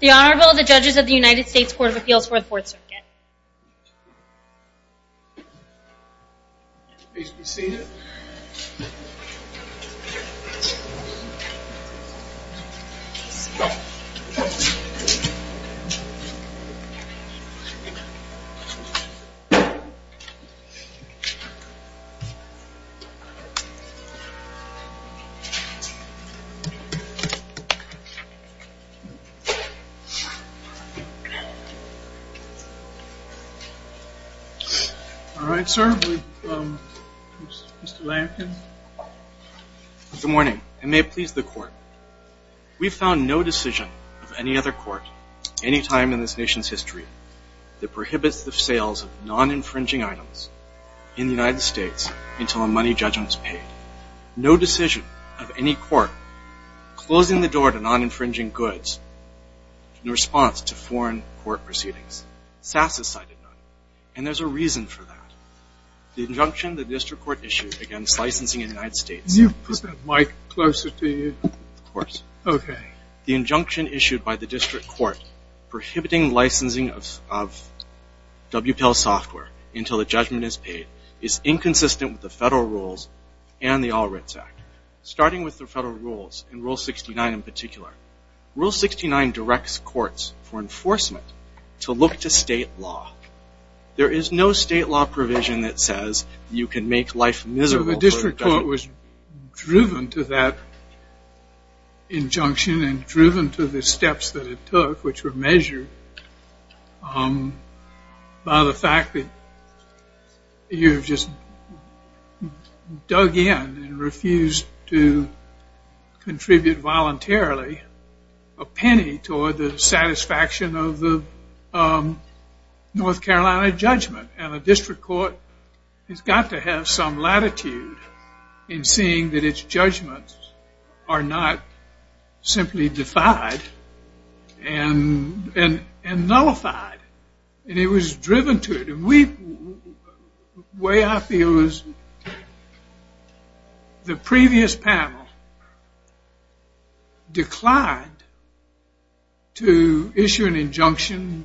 The Honorable, the Judges of the United States Court of Appeals for the Fourth Circuit. Good morning, and may it please the Court. We have found no decision of any other court any time in this nation's history that prohibits the sales of non-infringing items in the United States. There is no decision of any court closing the door to non-infringing goods in response to foreign court proceedings. SAS has cited none, and there is a reason for that. The injunction the District Court issued against licensing in the United States is You put that mic closer to you. Of course. Okay. The injunction issued by the District Court prohibiting licensing of WPIL software until the judgment is paid is inconsistent with the federal rules and the All Rights Act, starting with the federal rules, and Rule 69 in particular. Rule 69 directs courts for enforcement to look to state law. There is no state law provision that says you can make life miserable for the government. Well, the District Court was driven to that injunction and driven to the steps that it dug in and refused to contribute voluntarily a penny toward the satisfaction of the North Carolina judgment, and the District Court has got to have some latitude in seeing that its The previous panel declined to issue an injunction,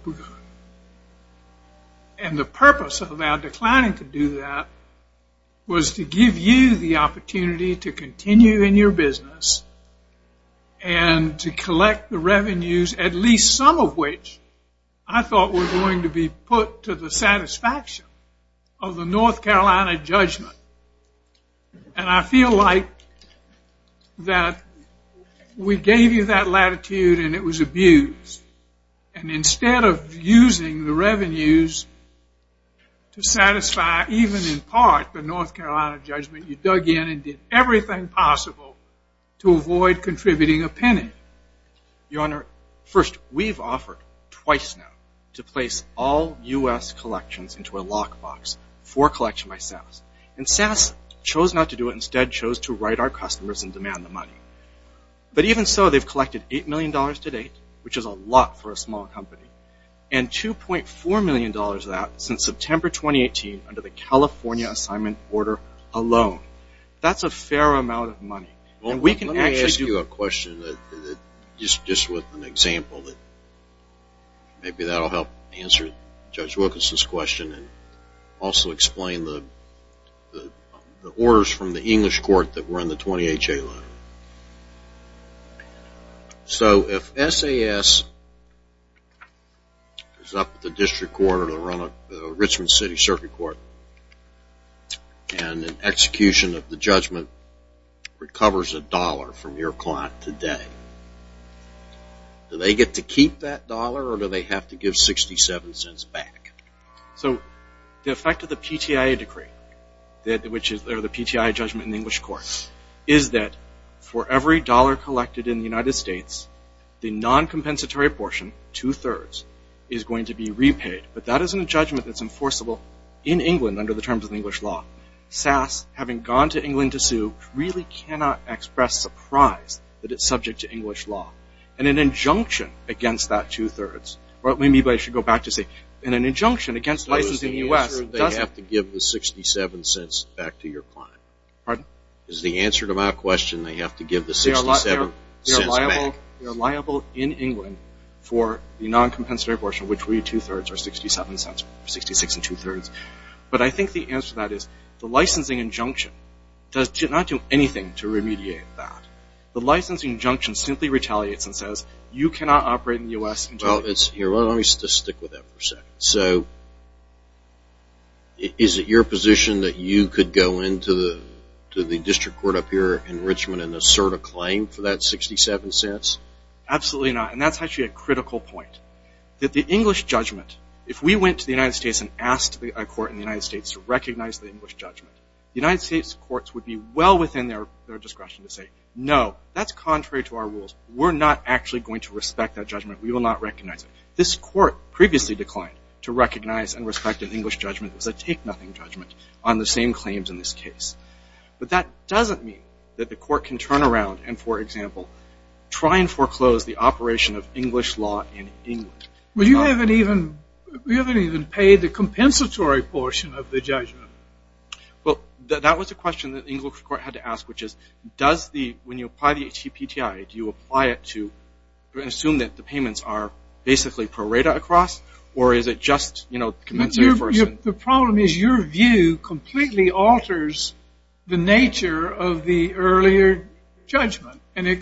and the purpose of our declining to do that was to give you the opportunity to continue in your business and to collect the revenues, at least some of which I thought were going to be put to the satisfaction of the North Carolina judgment, and I feel like that we gave you that latitude and it was abused, and instead of using the revenues to satisfy even in part the North Carolina judgment, you dug in and did everything possible to avoid contributing a penny. Your Honor, first, we've offered twice now to place all U.S. collections into a lock by SAS, and SAS chose not to do it and instead chose to write our customers and demand the money, but even so, they've collected $8 million to date, which is a lot for a small company, and $2.4 million of that since September 2018 under the California assignment order alone. That's a fair amount of money, and we can actually do a question that just with an example that maybe that will help answer Judge Wilkinson's question and also explain the orders from the English court that were in the 20HA letter. So if SAS is up at the district court or the Richmond City Circuit Court and an execution of the judgment recovers a dollar from your client today, do they get to keep that dollar or do they have to give 67 cents back? So the effect of the PTIA decree, or the PTIA judgment in the English court, is that for every dollar collected in the United States, the non-compensatory portion, two-thirds, is going to be repaid, but that isn't a judgment that's enforceable in England under the terms of English law. SAS, having gone to England to sue, really cannot express surprise that it's subject to English law. And an injunction against that two-thirds, or maybe I should go back to say, and an injunction against licensing in the U.S. So is the answer they have to give the 67 cents back to your client? Pardon? Is the answer to my question they have to give the 67 cents back? They're liable in England for the non-compensatory portion, which would be two-thirds, or 67 cents, or 66 and two-thirds. But I think the answer to that is, the licensing injunction does not do anything to remediate that. The licensing injunction simply retaliates and says, you cannot operate in the U.S. until Well, let me just stick with that for a second. So is it your position that you could go into the district court up here in Richmond and assert a claim for that 67 cents? Absolutely not. And that's actually a critical point. That the English judgment, if we went to the United States and asked a court in the United States to recognize the English judgment, the United States courts would be well within their discretion to say, no, that's contrary to our rules. We're not actually going to respect that judgment. We will not recognize it. This court previously declined to recognize and respect an English judgment as a take-nothing judgment on the same claims in this case. But that doesn't mean that the court can turn around and, for example, try and foreclose the operation of English law in England. Well, you haven't even paid the compensatory portion of the judgment. Well, that was a question that the English court had to ask, which is, does the – when you apply the HCPTI, do you apply it to – assume that the payments are basically pro rata across, or is it just, you know, commensurate first? The problem is your view completely alters the nature of the earlier judgment, and it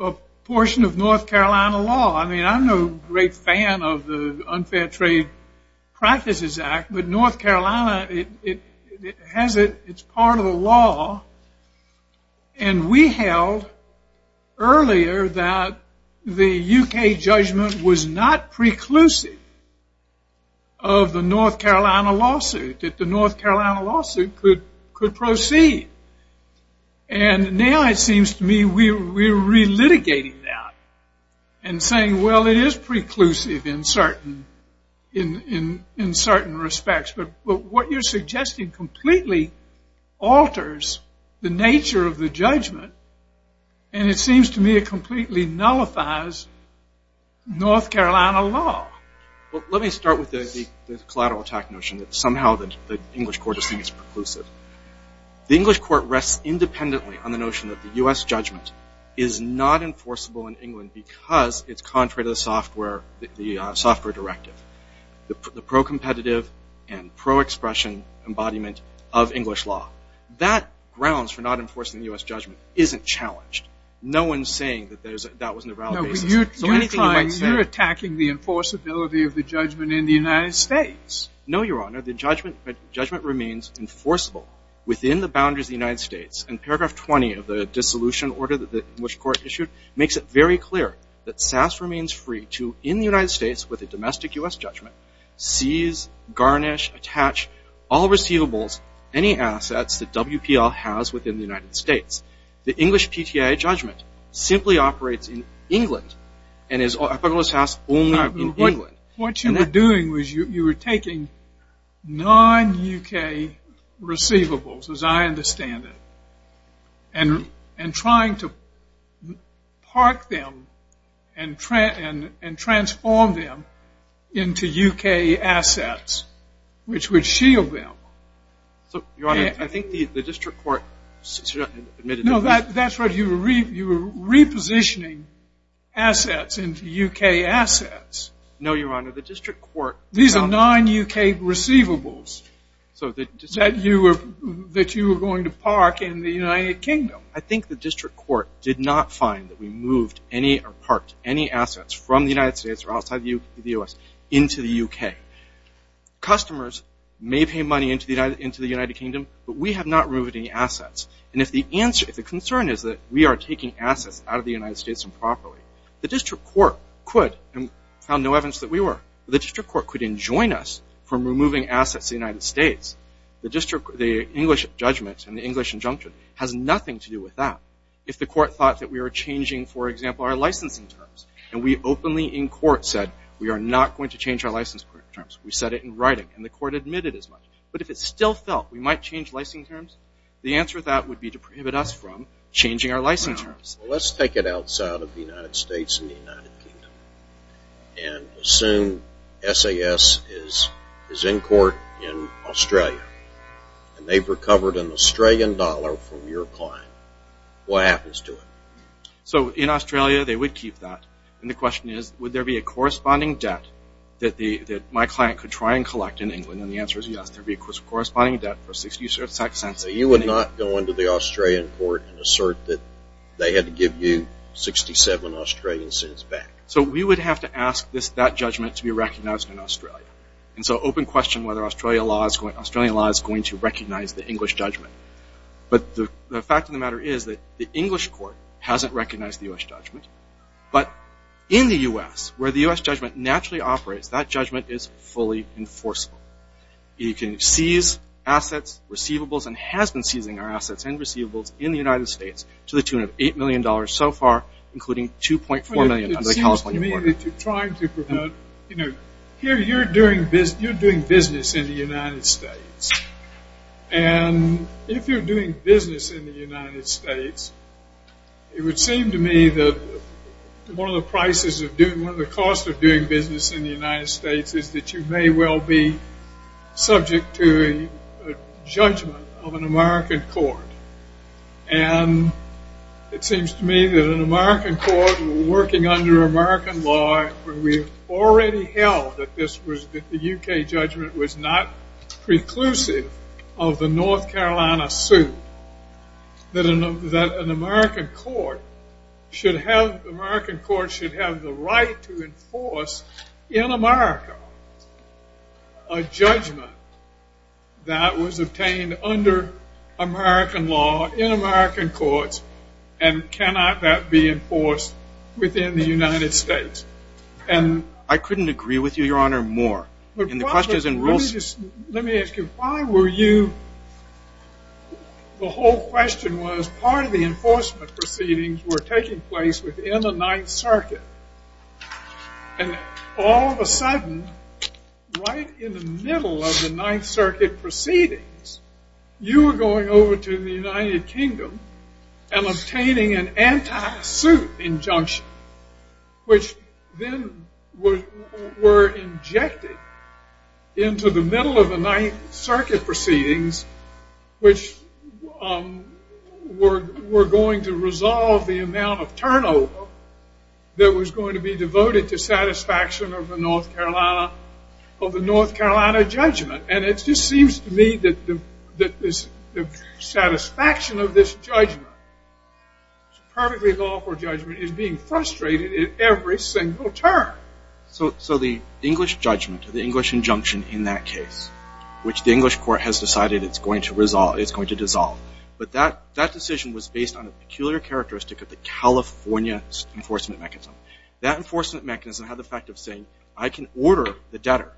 a portion of North Carolina law. I mean, I'm no great fan of the Unfair Trade Practices Act, but North Carolina, it has it – it's part of the law, and we held earlier that the UK judgment was not preclusive of the North Carolina lawsuit, that the North Carolina lawsuit could proceed. And now it seems to me we're relitigating that and saying, well, it is preclusive in certain respects, but what you're suggesting completely alters the nature of the judgment, and it seems to me it completely nullifies North Carolina law. Well, let me start with the collateral attack notion that somehow the English court is saying it's preclusive. The English court rests independently on the notion that the U.S. judgment is not enforceable in England because it's contrary to the software – the software directive, the pro-competitive and pro-expression embodiment of English law. That grounds for not enforcing the U.S. judgment isn't challenged. No one's saying that that wasn't a valid basis. No, but you're trying – you're attacking the enforceability of the judgment in the United States. No, Your Honor. The judgment remains enforceable within the boundaries of the United States, and paragraph 20 of the dissolution order that the English court issued makes it very clear that SAS remains free to, in the United States with a domestic U.S. judgment, seize, garnish, attach, attach all receivables, any assets that WPL has within the United States. The English PTA judgment simply operates in England and is – if I may just ask – only in England. What you were doing was you were taking non-UK receivables, as I understand it, and trying to park them and transform them into UK assets, which would shield them. So, Your Honor, I think the district court admitted that – No, that's right. You were repositioning assets into UK assets. No, Your Honor. The district court – These are non-UK receivables that you were going to park in the United Kingdom. No, I think the district court did not find that we moved any or parked any assets from the United States or outside the U.S. into the UK. Customers may pay money into the United Kingdom, but we have not removed any assets. And if the concern is that we are taking assets out of the United States improperly, the district court could – and found no evidence that we were – the district court could enjoin us from removing assets to the United States. The English judgment and the English injunction has nothing to do with that. If the court thought that we were changing, for example, our licensing terms, and we openly in court said we are not going to change our licensing terms, we said it in writing, and the court admitted as much. But if it still felt we might change licensing terms, the answer to that would be to prohibit us from changing our licensing terms. Let's take it outside of the United States and the United Kingdom and assume SAS is in court in Australia, and they've recovered an Australian dollar from your client. What happens to it? So in Australia, they would keep that, and the question is, would there be a corresponding debt that my client could try and collect in England, and the answer is yes, there would be a corresponding debt for 60 cents. You would not go into the Australian court and assert that they had to give you 67 Australian cents back. So we would have to ask that judgment to be recognized in Australia, and so open question whether Australian law is going to recognize the English judgment. But the fact of the matter is that the English court hasn't recognized the U.S. judgment, but in the U.S., where the U.S. judgment naturally operates, that judgment is fully enforceable. You can seize assets, receivables, and has been seizing our assets and receivables in the United States to the tune of $8 million so far, including $2.4 million under the California border. It seems to me that you're trying to prevent, you know, here you're doing business in the United States, and if you're doing business in the United States, it would seem to me that one of the prices of doing, one of the costs of doing business in the United States is that you may well be subject to a judgment of an American court. And it seems to me that an American court, working under American law, where we already held that this was, that the U.K. judgment was not preclusive of the North Carolina suit, that an American court should have the right to enforce in America a judgment that was obtained under American law, in American courts, and cannot that be enforced within the United States. And... I couldn't agree with you, Your Honor, more. Let me ask you, why were you, the whole question was, part of the enforcement proceedings were taking place within the Ninth Circuit, and all of a sudden, right in the middle of the Ninth Circuit proceedings, you were going over to the United Kingdom and obtaining an anti-suit injunction, which then were injected into the middle of the Ninth Circuit proceedings, which were going to resolve the amount of turnover that was going to be devoted to satisfaction of the North Carolina, of the North Carolina judgment. And it just seems to me that the satisfaction of this judgment, this perfectly lawful judgment, is being frustrated at every single turn. So the English judgment, the English injunction in that case, which the English court has decided it's going to resolve, it's going to dissolve. But that decision was based on a peculiar characteristic of the California enforcement mechanism. That enforcement mechanism had the effect of saying, I can order the debtor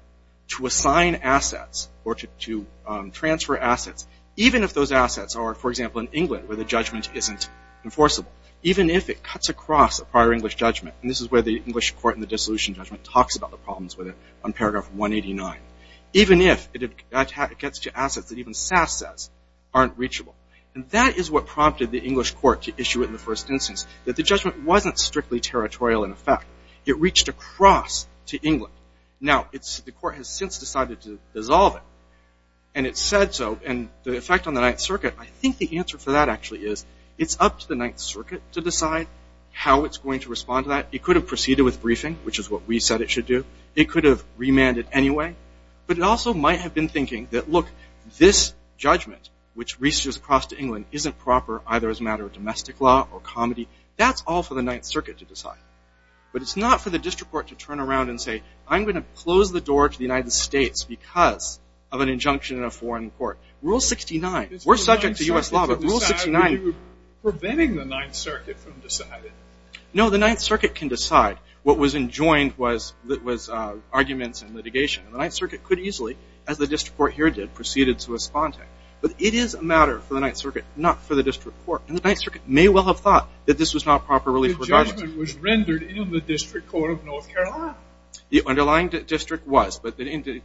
to assign assets or to transfer assets, even if those assets are, for example, in England, where the judgment isn't enforceable, even if it cuts across a prior English judgment. And this is where the English court in the dissolution judgment talks about the problems with it on paragraph 189. Even if it gets to assets that even SAS says aren't reachable. And that is what prompted the English court to issue it in the first instance, that the judgment wasn't strictly territorial in effect. It reached across to England. Now, the court has since decided to dissolve it. And it said so. And the effect on the Ninth Circuit, I think the answer for that actually is, it's up to the Ninth Circuit to decide how it's going to respond to that. It could have proceeded with briefing, which is what we said it should do. It could have remanded anyway. But it also might have been thinking that, look, this judgment, which reaches across to England, isn't proper, either as a matter of domestic law or comedy. That's all for the Ninth Circuit to decide. But it's not for the district court to turn around and say, I'm going to close the door to the United States because of an injunction in a foreign court. Rule 69. We're subject to US law, but Rule 69. Preventing the Ninth Circuit from deciding. No, the Ninth Circuit can decide. What was enjoined was arguments and litigation. And the Ninth Circuit could easily, as the district court here did, proceeded to respond to it. But it is a matter for the Ninth Circuit, not for the district court. And the Ninth Circuit may well have thought that this was not a proper relief if the judgment was rendered in the district court of North Carolina. The underlying district was. But the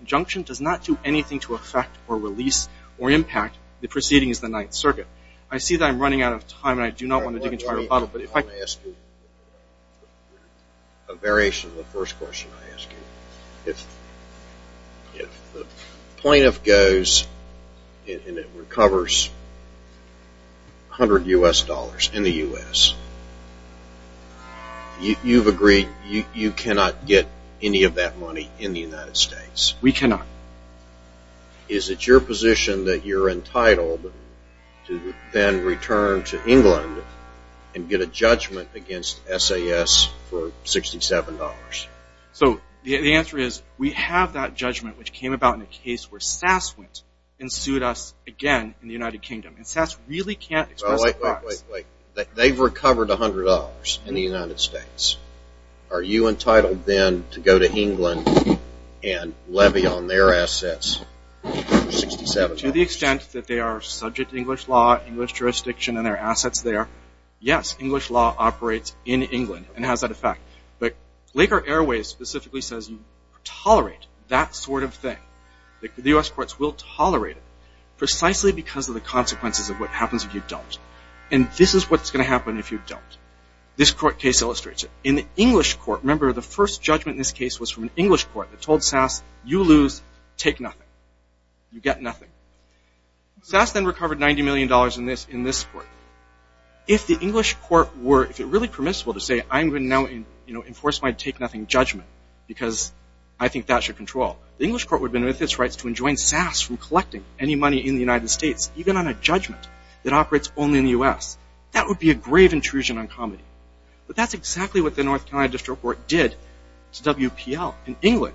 injunction does not do anything to affect, or release, or impact the proceedings of the Ninth Circuit. I see that I'm running out of time. And I do not want to dig into your bottle. I want to ask you a variation of the first question I asked you. If the plaintiff goes and it recovers $100 in the US, you've agreed you cannot get any of that money in the United States. We cannot. Is it your position that you're entitled to then return to England and get a judgment against SAS for $67? So the answer is, we have that judgment, which came about in a case where SAS went and sued us again in the United Kingdom. And SAS really can't express the facts. Wait, wait, wait. They've recovered $100 in the United States. Are you entitled then to go to England and levy on their assets for $67? To the extent that they are subject to English law, English jurisdiction, and their assets there, yes, English law operates in England and has that effect. But Laker Airways specifically says you tolerate that sort of thing. The US courts will tolerate it, precisely because of the consequences of what happens if you don't. And this is what's going to happen if you don't. This court case illustrates it. In the English court, remember, the first judgment in this case was from an English court that told SAS, you lose. Take nothing. You get nothing. SAS then recovered $90 million in this court. If the English court were really permissible to say, I'm going to now enforce my take nothing judgment, because I think that should control, the English court would benefit its rights to enjoin SAS from collecting any money in the United States, even on a judgment that operates only in the US. That would be a grave intrusion on comedy. But that's exactly what the North Carolina District Court did to WPL in England.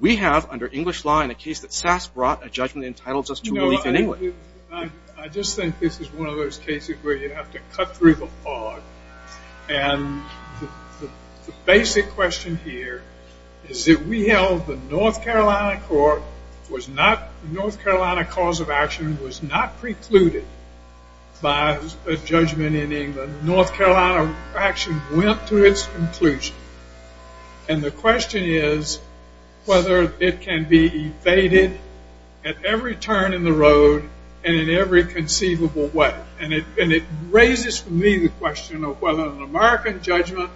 We have, under English law, in a case that SAS brought, a judgment that entitles us to relief in England. I just think this is one of those cases where you have to cut through the fog. And the basic question here is that we held the North Carolina cause of action was not precluded by a judgment in England. North Carolina action went to its conclusion. And the question is whether it can be evaded at every turn in the road and in every conceivable way. And it raises for me the question of whether an American judgment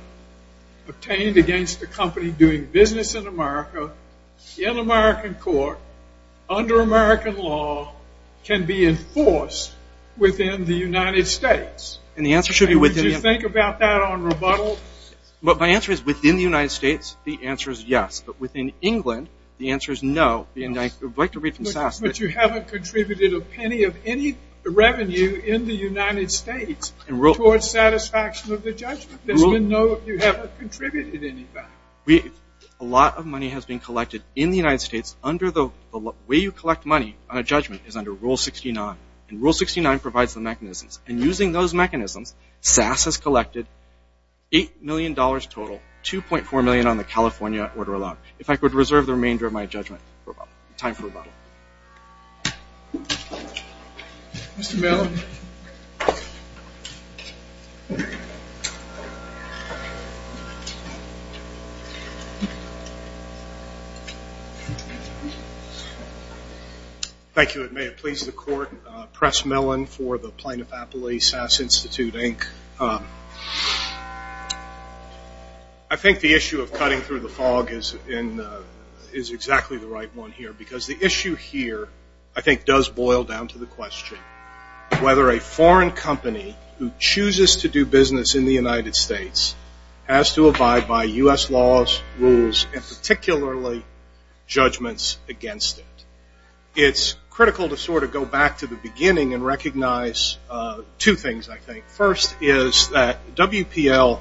obtained against a company doing business in America, in American court, under American law, can be enforced within the United States. And the answer should be within the United States. Would you think about that on rebuttal? But my answer is within the United States, the answer is yes. But within England, the answer is no. And I would like to read from SAS. But you haven't contributed a penny of any revenue in the United States towards satisfaction of the judgment. There's been no, you haven't contributed anything. A lot of money has been collected in the United States. Under the way you collect money on a judgment is under Rule 69. And Rule 69 provides the mechanisms. And using those mechanisms, SAS has collected $8 million total, $2.4 million on the California order of law. If I could reserve the remainder of my judgment, time for rebuttal. Mr. Mellon. Thank you. It may have pleased the court. Press Mellon for the plaintiff appellee, SAS Institute, Inc. I think the issue of cutting through the fog is exactly the right one here. Because the issue here, I think, does boil down to the question whether a foreign company who chooses to do business in the United States has to abide by US laws, rules, and particularly judgments against it. It's critical to sort of go back to the beginning and recognize two things, I think. First is that WPL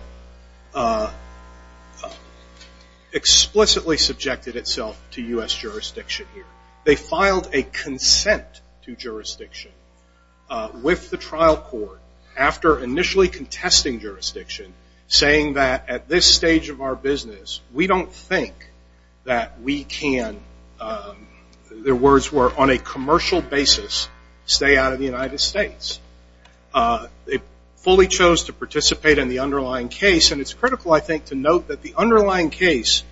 explicitly subjected itself to US jurisdiction here. They filed a consent to jurisdiction with the trial court after initially contesting jurisdiction, saying that at this stage of our business, we don't think that we can, their words were, on a commercial basis, stay out of the United States. They fully chose to participate in the underlying case. And it's critical, I think, to note that the underlying case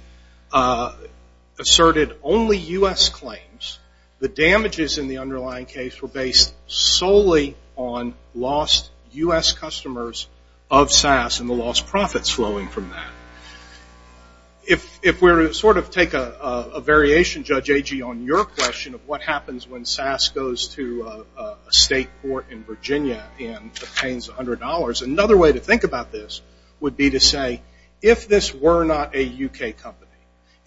asserted only US claims. The damages in the underlying case were based solely on lost US customers of SAS and the lost profits flowing from that. If we're to sort of take a variation, Judge Agee, on your question of what happens when SAS goes to a state court in Virginia and obtains $100, another way to think about this would be to say, if this were not a UK company,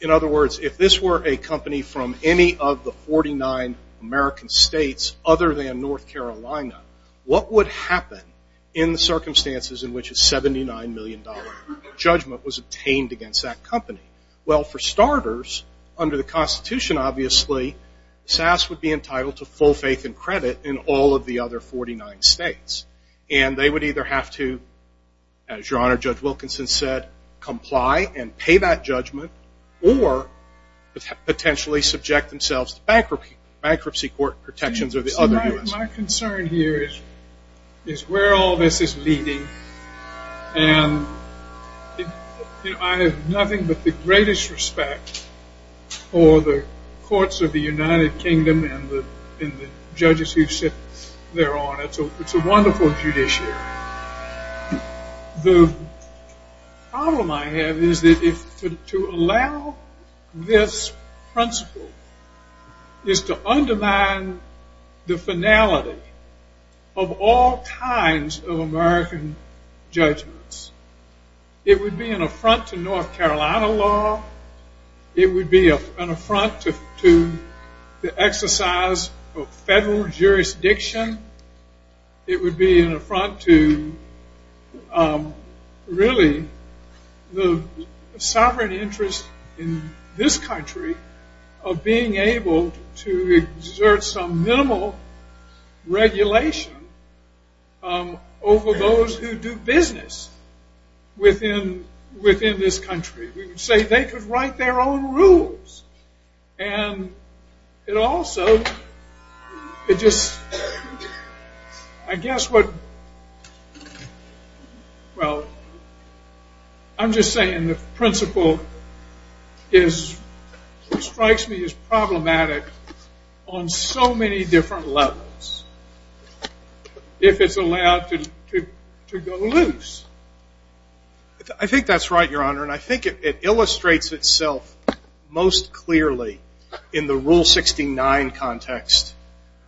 in other words, if this were a company from any of the 49 American states other than North Carolina, what would happen in the circumstances in which a $79 million judgment was obtained against that company? Well, for starters, under the Constitution, obviously, SAS would be entitled to full faith and credit in all of the other 49 states. And they would either have to, as your Honor Judge Wilkinson said, comply and pay that judgment, or potentially subject themselves to bankruptcy court protections of the other US. My concern here is where all this is leading. And I have nothing but the greatest respect for the courts of the United Kingdom and the judges who sit there on it. It's a wonderful judiciary. The problem I have is that to allow this principle is to undermine the finality of all kinds of American judgments. It would be an affront to North Carolina law. It would be an affront to the exercise of federal jurisdiction. It would be an affront to, really, the sovereign interest in this country of being able to exert some minimal regulation over those who do business within this country. We would say they could write their own rules. And it also, it just, I guess what, well, I'm just saying the principle strikes me as problematic on so many different levels if it's allowed to go loose. I think that's right, Your Honor. And I think it illustrates itself most clearly in the Rule 69 context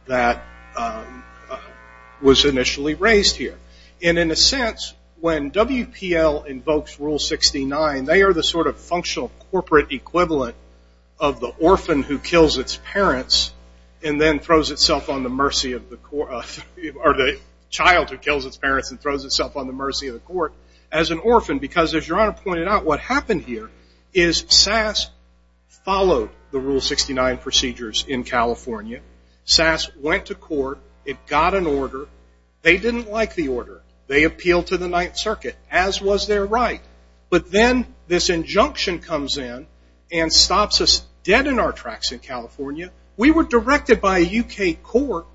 that was initially raised here. And in a sense, when WPL invokes Rule 69, they are the sort of functional corporate equivalent of the orphan who kills its parents and then throws itself on the mercy of the court, or the child who kills its parents and throws itself on the mercy of the court as an orphan. Because as Your Honor pointed out, what happened here is SAS followed the Rule 69 procedures in California. SAS went to court. It got an order. They didn't like the order. They appealed to the Ninth Circuit, as was their right. But then this injunction comes in and stops us dead in our tracks in California. We were directed by a UK court,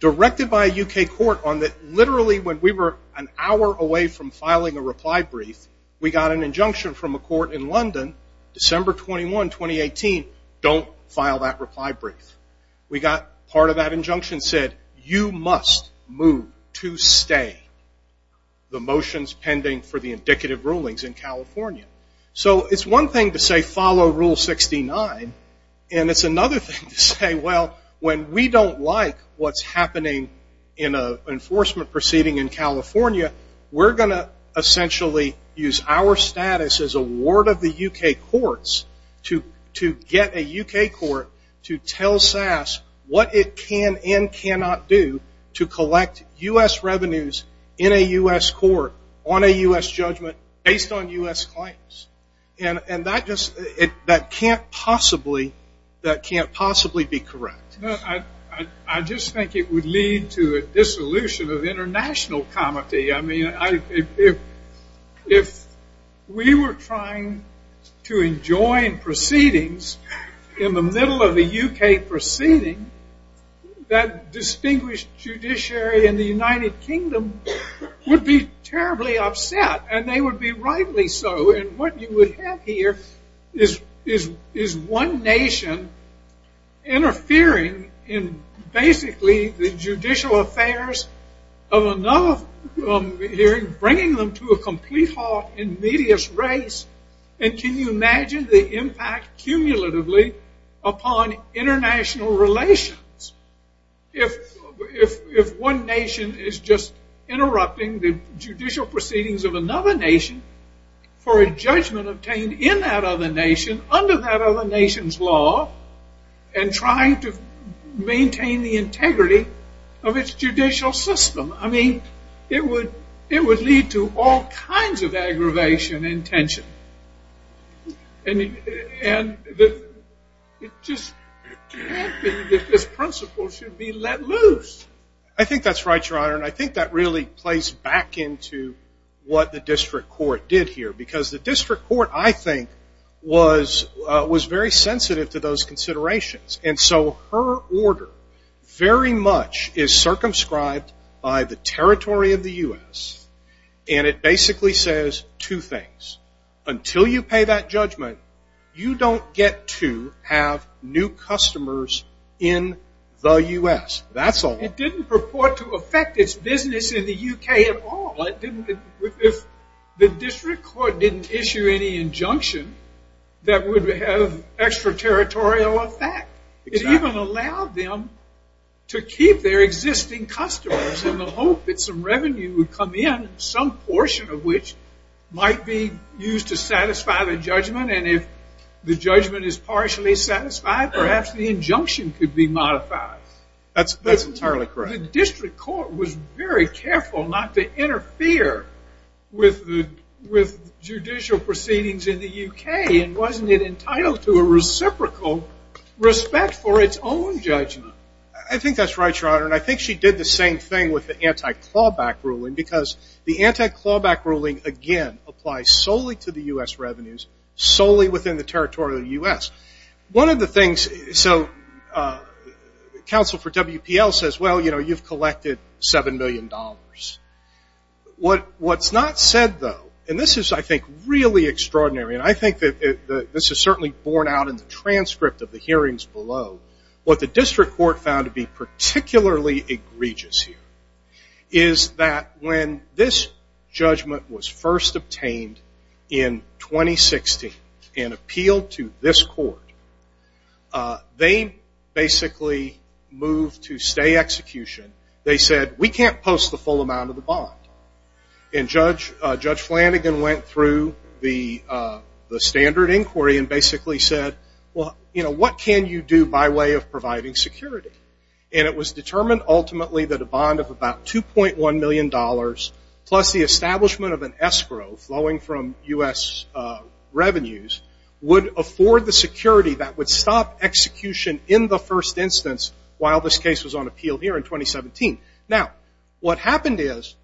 directed by a UK court, on that literally when we were an hour away from filing a reply brief, we got an injunction from a court in London, December 21, 2018, don't file that reply brief. We got part of that injunction said, you must move to stay the motions pending for the indicative rulings in California. So it's one thing to say, follow Rule 69. And it's another thing to say, well, when we don't like what's happening in an enforcement proceeding in California, we're going to essentially use our status as a ward of the UK courts to get a UK court to tell SAS what it can and cannot do to collect US revenues in a US court on a US judgment based on US claims. And that just can't possibly be correct. I just think it would lead to a dissolution of international comity. I mean, if we were trying to enjoin proceedings in the middle of a UK proceeding, that distinguished judiciary in the United Kingdom would be terribly upset. And they would be rightly so. And what you would have here is one nation interfering in basically the judicial affairs of another hearing, bringing them to a complete halt in media's race. And can you imagine the impact cumulatively upon international relations if one nation is just interrupting the judicial proceedings of another nation for a judgment obtained in that other nation under that other nation's law and trying to maintain the integrity of its judicial system? I mean, it would lead to all kinds of aggravation and tension. And it just can't be that this principle should be let loose. I think that's right, Your Honor. And I think that really plays back into what the district court did here. Because the district court, I think, was very sensitive to those considerations. And so her order very much is circumscribed by the territory of the US. And it basically says two things. Until you pay that judgment, you don't get to have new customers in the US. That's all. It didn't purport to affect its business in the UK at all. If the district court didn't issue any injunction, that would have extraterritorial effect. It even allowed them to keep their existing customers in the hope that some revenue would come in, some portion of which might be used to satisfy the judgment. And if the judgment is partially satisfied, perhaps the injunction could be modified. That's entirely correct. The district court was very careful not to interfere with judicial proceedings in the UK. And wasn't it entitled to a reciprocal respect for its own judgment? I think that's right, Your Honor. And I think she did the same thing with the anti-clawback ruling. Because the anti-clawback ruling, again, applies solely to the US revenues, solely within the territory of the US. One of the things, so counsel for WPL says, well, you've collected $7 million. What's not said, though, and this is, I think, really extraordinary, and I think that this is certainly borne out in the transcript of the hearings below, what the district court found to be particularly egregious here is that when this judgment was first obtained in 2016 and appealed to this court, they basically moved to stay execution. They said, we can't post the full amount of the bond. And Judge Flanagan went through the standard inquiry and basically said, well, what can you do by way of providing security? And it was determined, ultimately, that a bond of about $2.1 million plus the establishment of an escrow flowing from US revenues would afford the security that would stop execution in the first instance while this case was on appeal here in 2017. Now, what happened is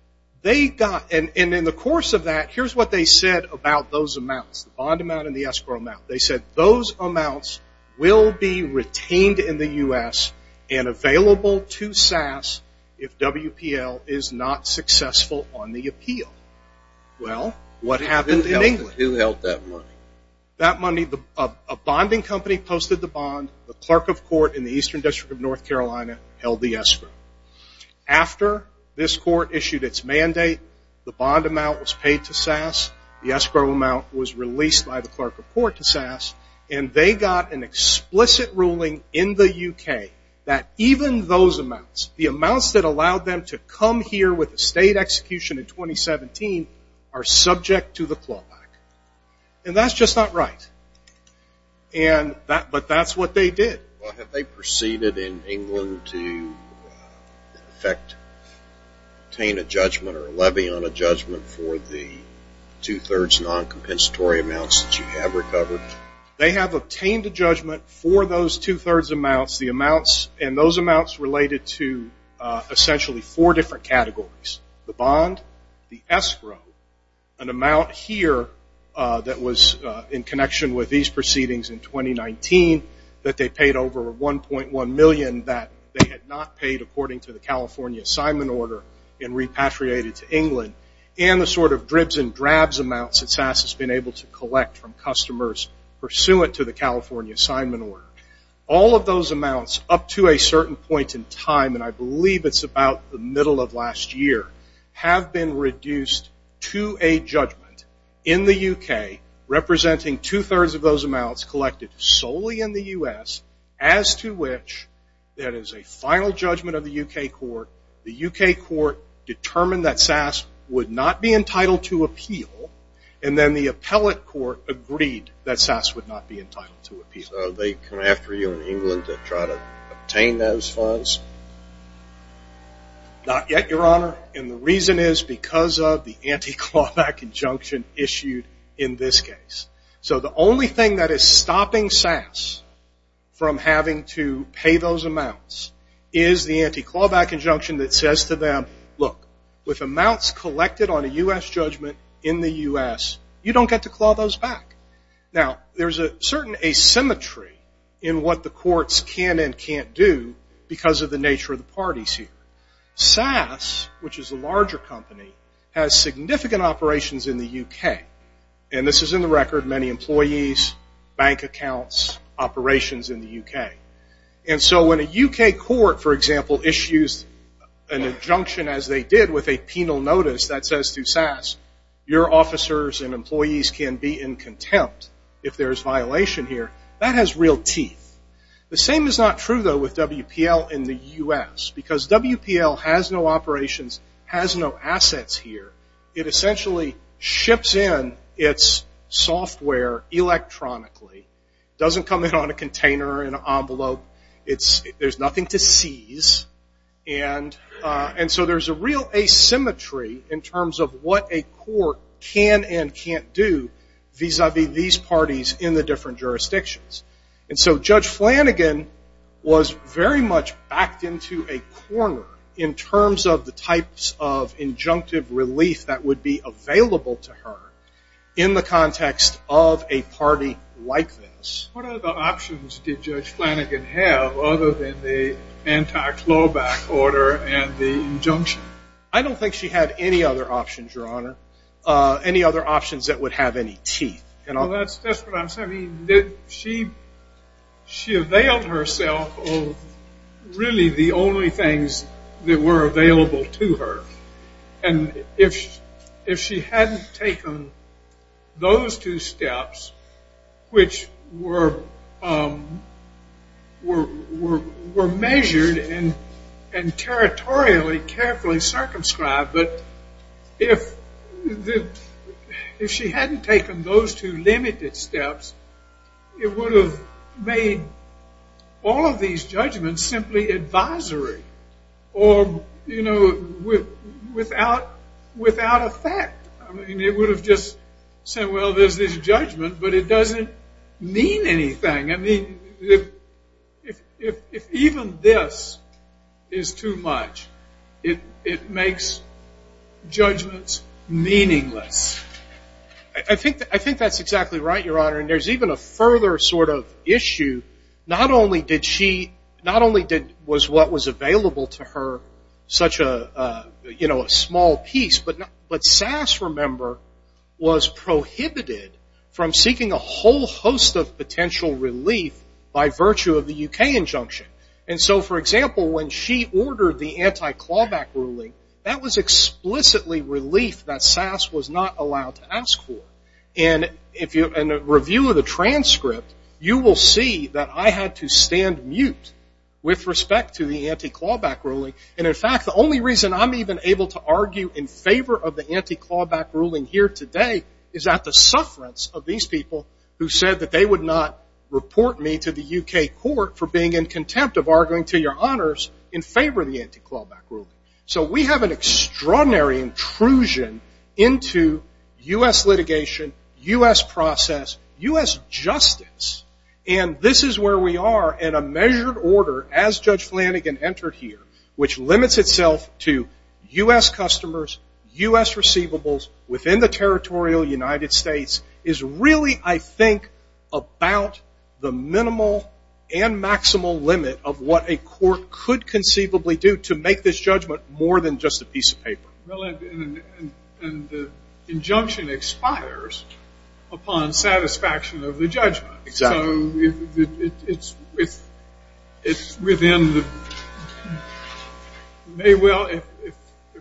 they got, and in the course of that, here's what they said about those amounts, the bond amount and the escrow amount. They said, those amounts will be retained in the US and available to SAS if WPL is not successful on the appeal. Well, what happened in England? Who held that money? That money, a bonding company posted the bond. The clerk of court in the Eastern District of North Carolina held the escrow. After this court issued its mandate, the bond amount was paid to SAS. The escrow amount was released by the clerk of court to SAS. And they got an explicit ruling in the UK that even those amounts, the amounts that allowed them to come here with a state execution in 2017, are subject to the clawback. And that's just not right. And that, but that's what they did. Well, have they proceeded in England to, in effect, obtain a judgment or a levy on a judgment for the 2 3rds non-compensatory amounts that you have recovered? They have obtained a judgment for those 2 3rds amounts. The amounts and those amounts related to essentially four different categories, the bond, the escrow, an amount here that was in connection with these proceedings in 2019 that they paid over $1.1 million that they had not paid according to the California assignment order and repatriated to England, and the sort of dribs and drabs amounts that SAS has been able to collect from customers pursuant to the California assignment order. All of those amounts, up to a certain point in time, and I believe it's about the middle of last year, have been reduced to a judgment in the UK representing 2 3rds of those amounts collected solely in the US, as to which there is a final judgment of the UK court. The UK court determined that SAS would not be entitled to appeal. And then the appellate court agreed that SAS would not be entitled to appeal. They come after you in England to try to obtain those funds? Not yet, Your Honor. And the reason is because of the anti-clawback injunction issued in this case. So the only thing that is stopping SAS from having to pay those amounts is the anti-clawback injunction that says to them, look, with amounts collected on a US judgment in the US, you don't get to claw those back. Now, there's a certain asymmetry in what the courts can and can't do because of the nature of the parties here. SAS, which is a larger company, has significant operations in the UK. And this is in the record, many employees, bank accounts, operations in the UK. And so when a UK court, for example, issues an injunction as they did with a penal notice that says to SAS, your officers and employees can be in contempt if there is violation here, that has real teeth. The same is not true, though, with WPL in the US. Because WPL has no operations, has no assets here, it essentially ships in its software electronically, doesn't come in on a container, in an envelope. There's nothing to seize. And so there's a real asymmetry in terms of what a court can and can't do vis-a-vis these parties in the different jurisdictions. And so Judge Flanagan was very much backed into a corner in terms of the types of injunctive relief that would be available to her in the context of a party like this. What other options did Judge Flanagan have other than the anti-clawback order and the injunction? I don't think she had any other options, Your Honor, any other options that would have any teeth. Well, that's just what I'm saying. She availed herself of really the only things that were available to her. And if she hadn't taken those two steps, which were measured and territorially carefully circumscribed, but if she hadn't taken those two limited steps, it would have made all of these judgments simply advisory or without effect. It would have just said, well, there's this judgment, but it doesn't mean anything. I mean, if even this is too much, it makes judgments meaningless. I think that's exactly right, Your Honor. And there's even a further sort of issue. Not only was what was available to her such a small piece, but Sass, remember, was prohibited from seeking a whole host of potential relief by virtue of the UK injunction. And so, for example, when she ordered the anti-clawback ruling, that was explicitly relief that Sass was not allowed to ask for. And in a review of the transcript, you will see that I had to stand mute with respect to the anti-clawback ruling. And in fact, the only reason I'm even able to argue in favor of the anti-clawback ruling here today is that the sufferance of these people who said that they would not report me to the UK court for being in contempt of arguing to your honors in favor of the anti-clawback ruling. So we have an extraordinary intrusion into US litigation, US process, US justice. And this is where we are in a measured order as Judge Flanagan entered here, which limits itself to US customers, US receivables within the territorial United States, is really, I think, about the minimal and maximal limit of what a court could conceivably do to make this judgment more than just a piece of paper. And the injunction expires upon satisfaction of the judgment. Exactly. It's within the may well, if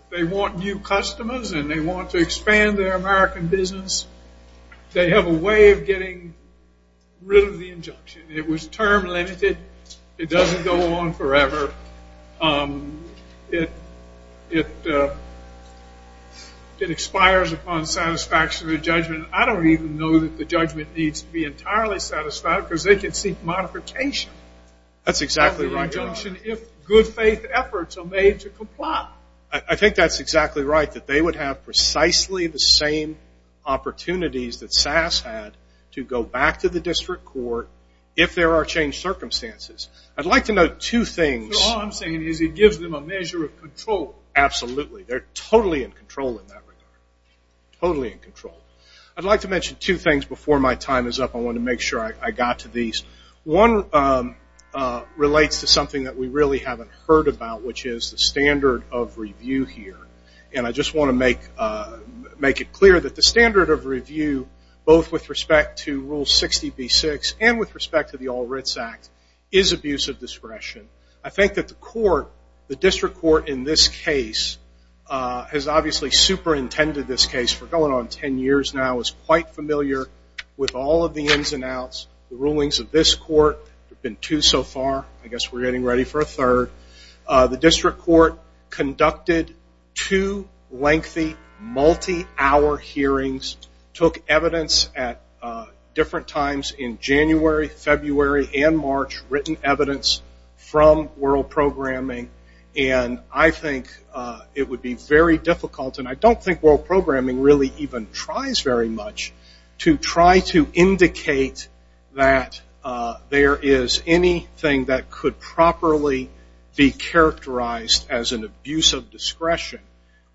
they want new customers and they want to expand their American business, they have a way of getting rid of the injunction. It was term limited. It doesn't go on forever. It expires upon satisfaction of the judgment. I don't even know that the judgment needs to be entirely satisfied, because they can seek modification of the injunction if good faith efforts are made to comply. I think that's exactly right, that they would have precisely the same opportunities that SAS had to go back to the district court if there are changed circumstances. I'd like to note two things. So all I'm saying is it gives them a measure of control. Absolutely. They're totally in control in that regard, totally in control. I'd like to mention two things before my time is up. I want to make sure I got to these. One relates to something that we really haven't heard about, which is the standard of review here. And I just want to make it clear that the standard of review, both with respect to Rule 60b-6 and with respect to the All Writs Act, is abuse of discretion. I think that the court, the district court in this case, has obviously superintended this case for going on 10 years now, is quite familiar with all of the ins and outs. The rulings of this court have been two so far. I guess we're getting ready for a third. The district court conducted two lengthy multi-hour hearings, took evidence at different times in January, February, and March, written evidence from World Programming. And I think it would be very difficult, and I don't think World Programming really even tries very much, to try to indicate that there is anything that could properly be characterized as an abuse of discretion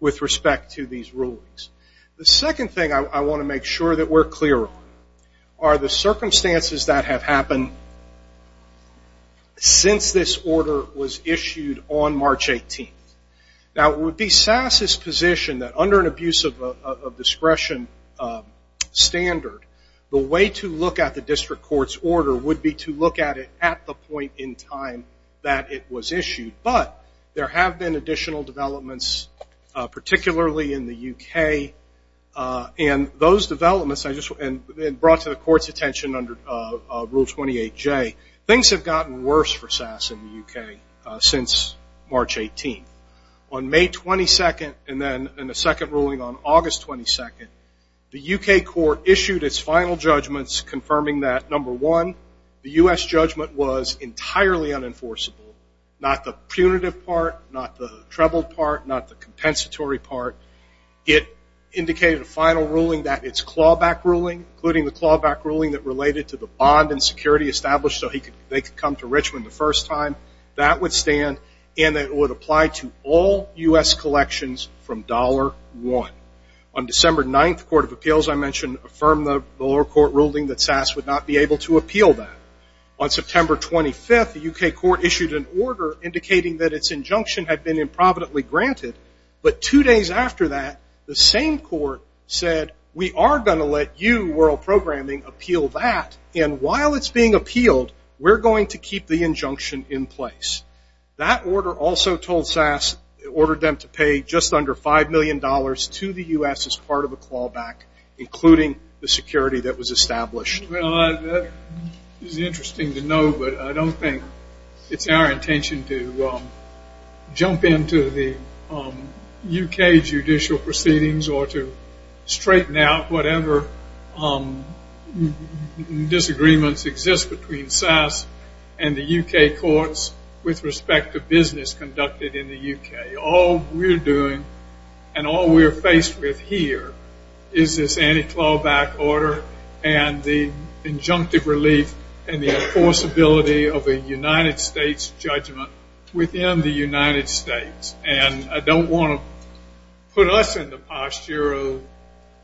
with respect to these rulings. The second thing I want to make sure that we're clear on are the circumstances that have happened since this order was issued on March 18. Now, it would be SAS's position that under an abuse of discretion standard, the way to look at the district court's order would be to look at it at the point in time that it was issued. But there have been additional developments, particularly in the UK. And those developments, and brought to the court's attention under Rule 28J, things have gotten worse for SAS in the UK since March 18. On May 22nd, and then in the second ruling on August 22nd, the UK court issued its final judgments, confirming that, number one, the US judgment was entirely unenforceable. Not the punitive part, not the troubled part, not the compensatory part. It indicated a final ruling that its clawback ruling, including the clawback ruling that related to the bond and security established so they could come to Richmond the first time, that would stand. And it would apply to all US collections from dollar one. On December 9th, the Court of Appeals, I mentioned, affirmed the lower court ruling that SAS would not be able to appeal that. On September 25th, the UK court issued an order indicating that its injunction had been improvidently granted. But two days after that, the same court said, we are going to let you, World Programming, appeal that. And while it's being appealed, we're going to keep the injunction in place. That order also told SAS, ordered them to pay just under $5 million to the US as part of a clawback, including the security that was established. Well, that is interesting to know, but I don't think it's our intention to jump into the UK judicial proceedings or to straighten out whatever disagreements exist between SAS and the UK courts with respect to business conducted in the UK. All we're doing and all we're faced with here is this anti-clawback order and the injunctive relief and the enforceability of a United States judgment within the United States. And I don't want to put us in the posture of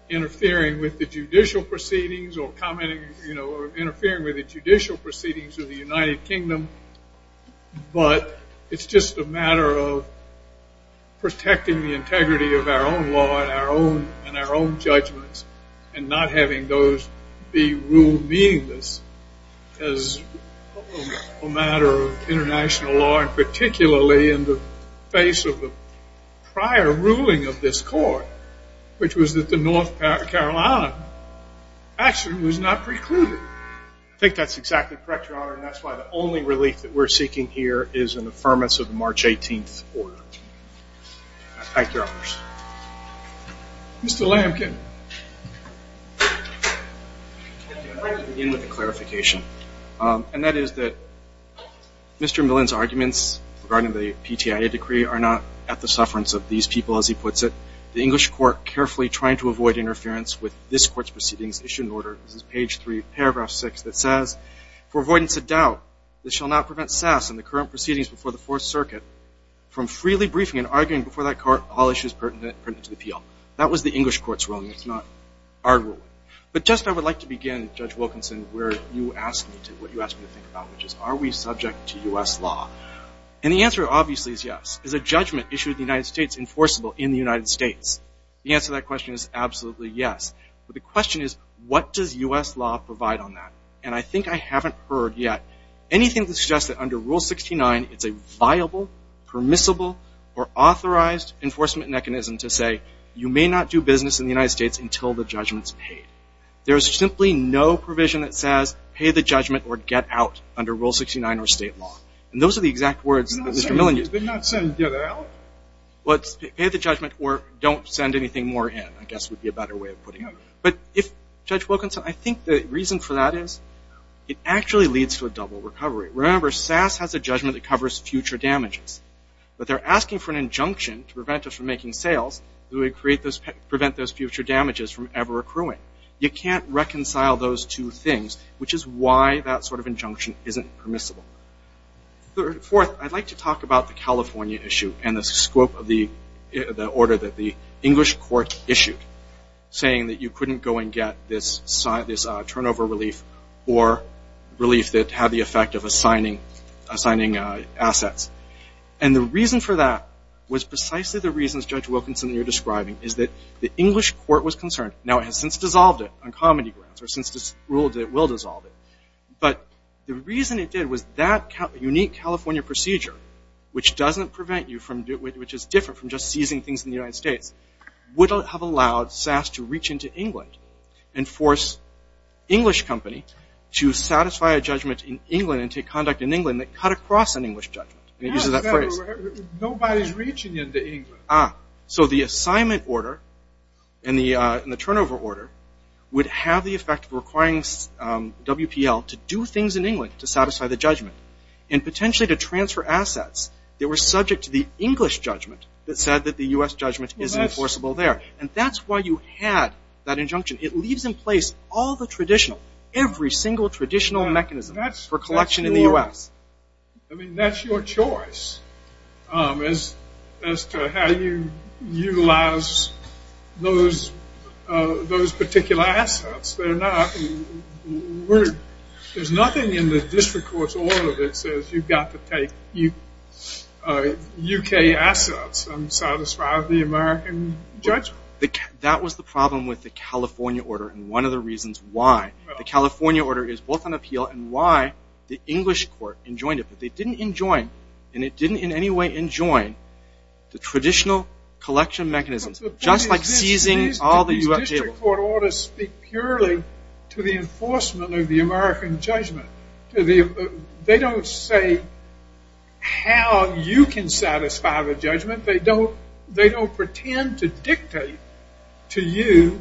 interfering with the judicial proceedings or commenting or interfering with the judicial proceedings of the United Kingdom, but it's just a matter of protecting the integrity of our own law and our own judgments and not having those be ruled meaningless as a matter of international law and particularly in the face of the prior ruling of this court, which was that the North Carolina action was not precluded. I think that's exactly correct, Your Honor, and that's why the only relief that we're seeking here is an affirmance of the March 18th order. Thank you, Your Honors. Mr. Lamkin. I'd like to begin with a clarification, and that is that Mr. Millen's arguments regarding the PTIA decree are not at the sufferance of these people, as he puts it. The English court carefully trying to avoid interference with this court's proceedings issued an order. This is page 3, paragraph 6, that says, for avoidance of doubt, this shall not prevent Sass and the current proceedings before the Fourth Circuit from freely briefing and arguing before that court all issues pertinent to the appeal. That was the English court's ruling. It's not our ruling. But just I would like to begin, Judge Wilkinson, where you asked me to, what you asked me to think about, which is are we subject to US law? And the answer, obviously, is yes. Is a judgment issued in the United States enforceable in the United States? The answer to that question is absolutely yes. But the question is, what does US law provide on that? And I think I haven't heard yet anything that suggests that under Rule 69, it's a viable, permissible, or authorized enforcement mechanism to say, you may not do business in the United States until the judgment's paid. There is simply no provision that says pay the judgment or get out under Rule 69 or state law. And those are the exact words that Mr. Millen used. They're not saying get out? Well, it's pay the judgment or don't send anything more in, I guess, would be a better way of putting it. But if, Judge Wilkinson, I think the reason for that is it actually leads to a double recovery. Remember, SAS has a judgment that covers future damages. But they're asking for an injunction to prevent us from making sales that would prevent those future damages from ever accruing. You can't reconcile those two things, which is why that sort of injunction isn't permissible. Fourth, I'd like to talk about the California issue and the scope of the order that the English court issued, saying that you couldn't go and get this turnover relief or relief that had the effect of assigning assets. And the reason for that was precisely the reasons, Judge Wilkinson, you're describing, is that the English court was concerned. Now, it has since dissolved it on comedy grounds or since it's ruled that it will dissolve it. But the reason it did was that unique California procedure, which doesn't prevent you, which is different from just seizing things in the United States, would have allowed SAS to reach into England and force English company to satisfy a judgment in England and take conduct in England that cut across an English judgment. And it uses that phrase. Nobody's reaching into England. So the assignment order and the turnover order would have the effect of requiring WPL to do things in England to satisfy the judgment and potentially to transfer assets that were subject to the English judgment that said that the US judgment is enforceable there. And that's why you had that injunction. It leaves in place all the traditional, every single traditional mechanism for collection in the US. I mean, that's your choice as to how you utilize those particular assets. They're not. There's nothing in the district court's order that says you've got to take UK assets and satisfy the American judgment. That was the problem with the California order and one of the reasons why. The California order is both an appeal and why the English court enjoined it. But they didn't enjoin, and it didn't in any way enjoin, the traditional collection mechanisms, just like seizing all the US jails. The district court orders speak purely to the enforcement of the American judgment. They don't say how you can satisfy the judgment. They don't pretend to dictate to you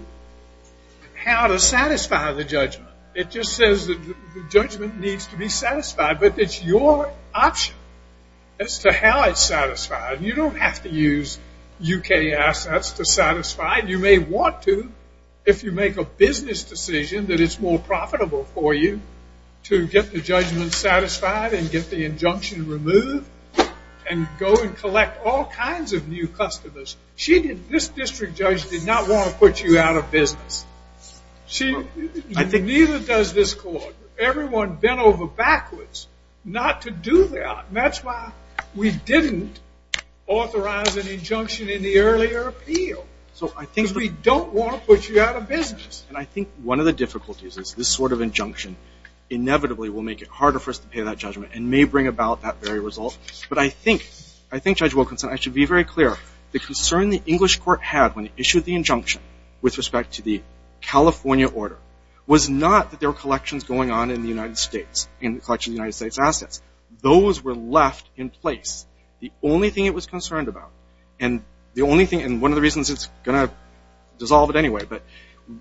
how to satisfy the judgment. It just says that the judgment needs to be satisfied. But it's your option as to how it's satisfied. You don't have to use UK assets to satisfy it. You may want to if you make a business decision that it's more profitable for you to get the judgment satisfied and get the injunction removed and go and collect all kinds of new customers. This district judge did not want to put you out of business. Neither does this court. Everyone bent over backwards not to do that. And that's why we didn't authorize an injunction in the earlier appeal. So I think we don't want to put you out of business. And I think one of the difficulties is this sort of injunction inevitably will make it harder for us to pay that judgment and may bring about that very result. But I think, Judge Wilkinson, I should be very clear. The concern the English court had when it issued the injunction with respect to the California order was not that there were collections going on in the United States, in the collection of the United States assets. Those were left in place. The only thing it was concerned about, and the only thing, and one of the reasons it's going to dissolve it anyway, but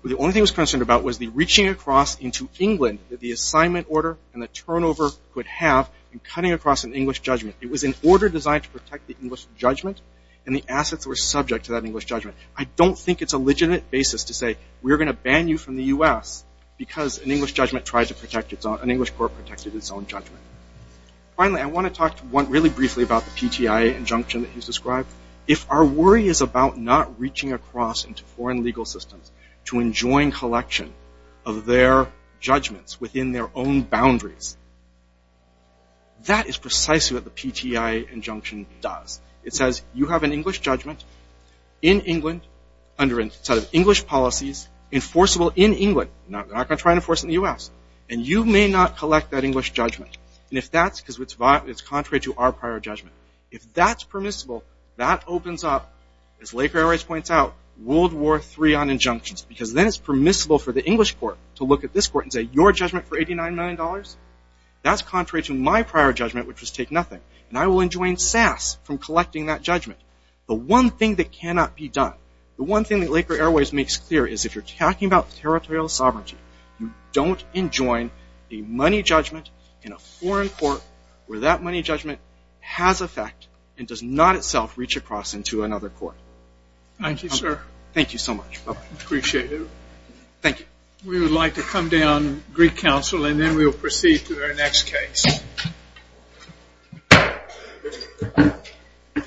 the only thing it was concerned about was the reaching across into England that the assignment order and the turnover could have in cutting across an English judgment. It was an order designed to protect the English judgment. And the assets were subject to that English judgment. I don't think it's a legitimate basis to say we're going to ban you from the US because an English judgment tried to protect its own, an English court protected its own judgment. Finally, I want to talk to one really briefly about the PTI injunction that he's described. If our worry is about not reaching across into foreign legal systems to enjoin collection of their judgments within their own boundaries, that is precisely what the PTI injunction does. It says you have an English judgment in England under a set of English policies enforceable in England. They're not going to try and enforce it in the US. And you may not collect that English judgment. And if that's because it's contrary to our prior judgment, if that's permissible, that opens up, as Laker Airways points out, World War III on injunctions. Because then it's permissible for the English court to look at this court and say, your judgment for $89 million? That's contrary to my prior judgment, which was take nothing. And I will enjoin SAS from collecting that judgment. The one thing that cannot be done, the one thing that Laker Airways makes clear is if you're talking about territorial sovereignty, you don't enjoin a money judgment in a foreign court where that money judgment has effect and does not itself reach across into another court. Thank you, sir. Thank you so much. Appreciate it. Thank you. We would like to come down Greek Council. And then we will proceed to our next case.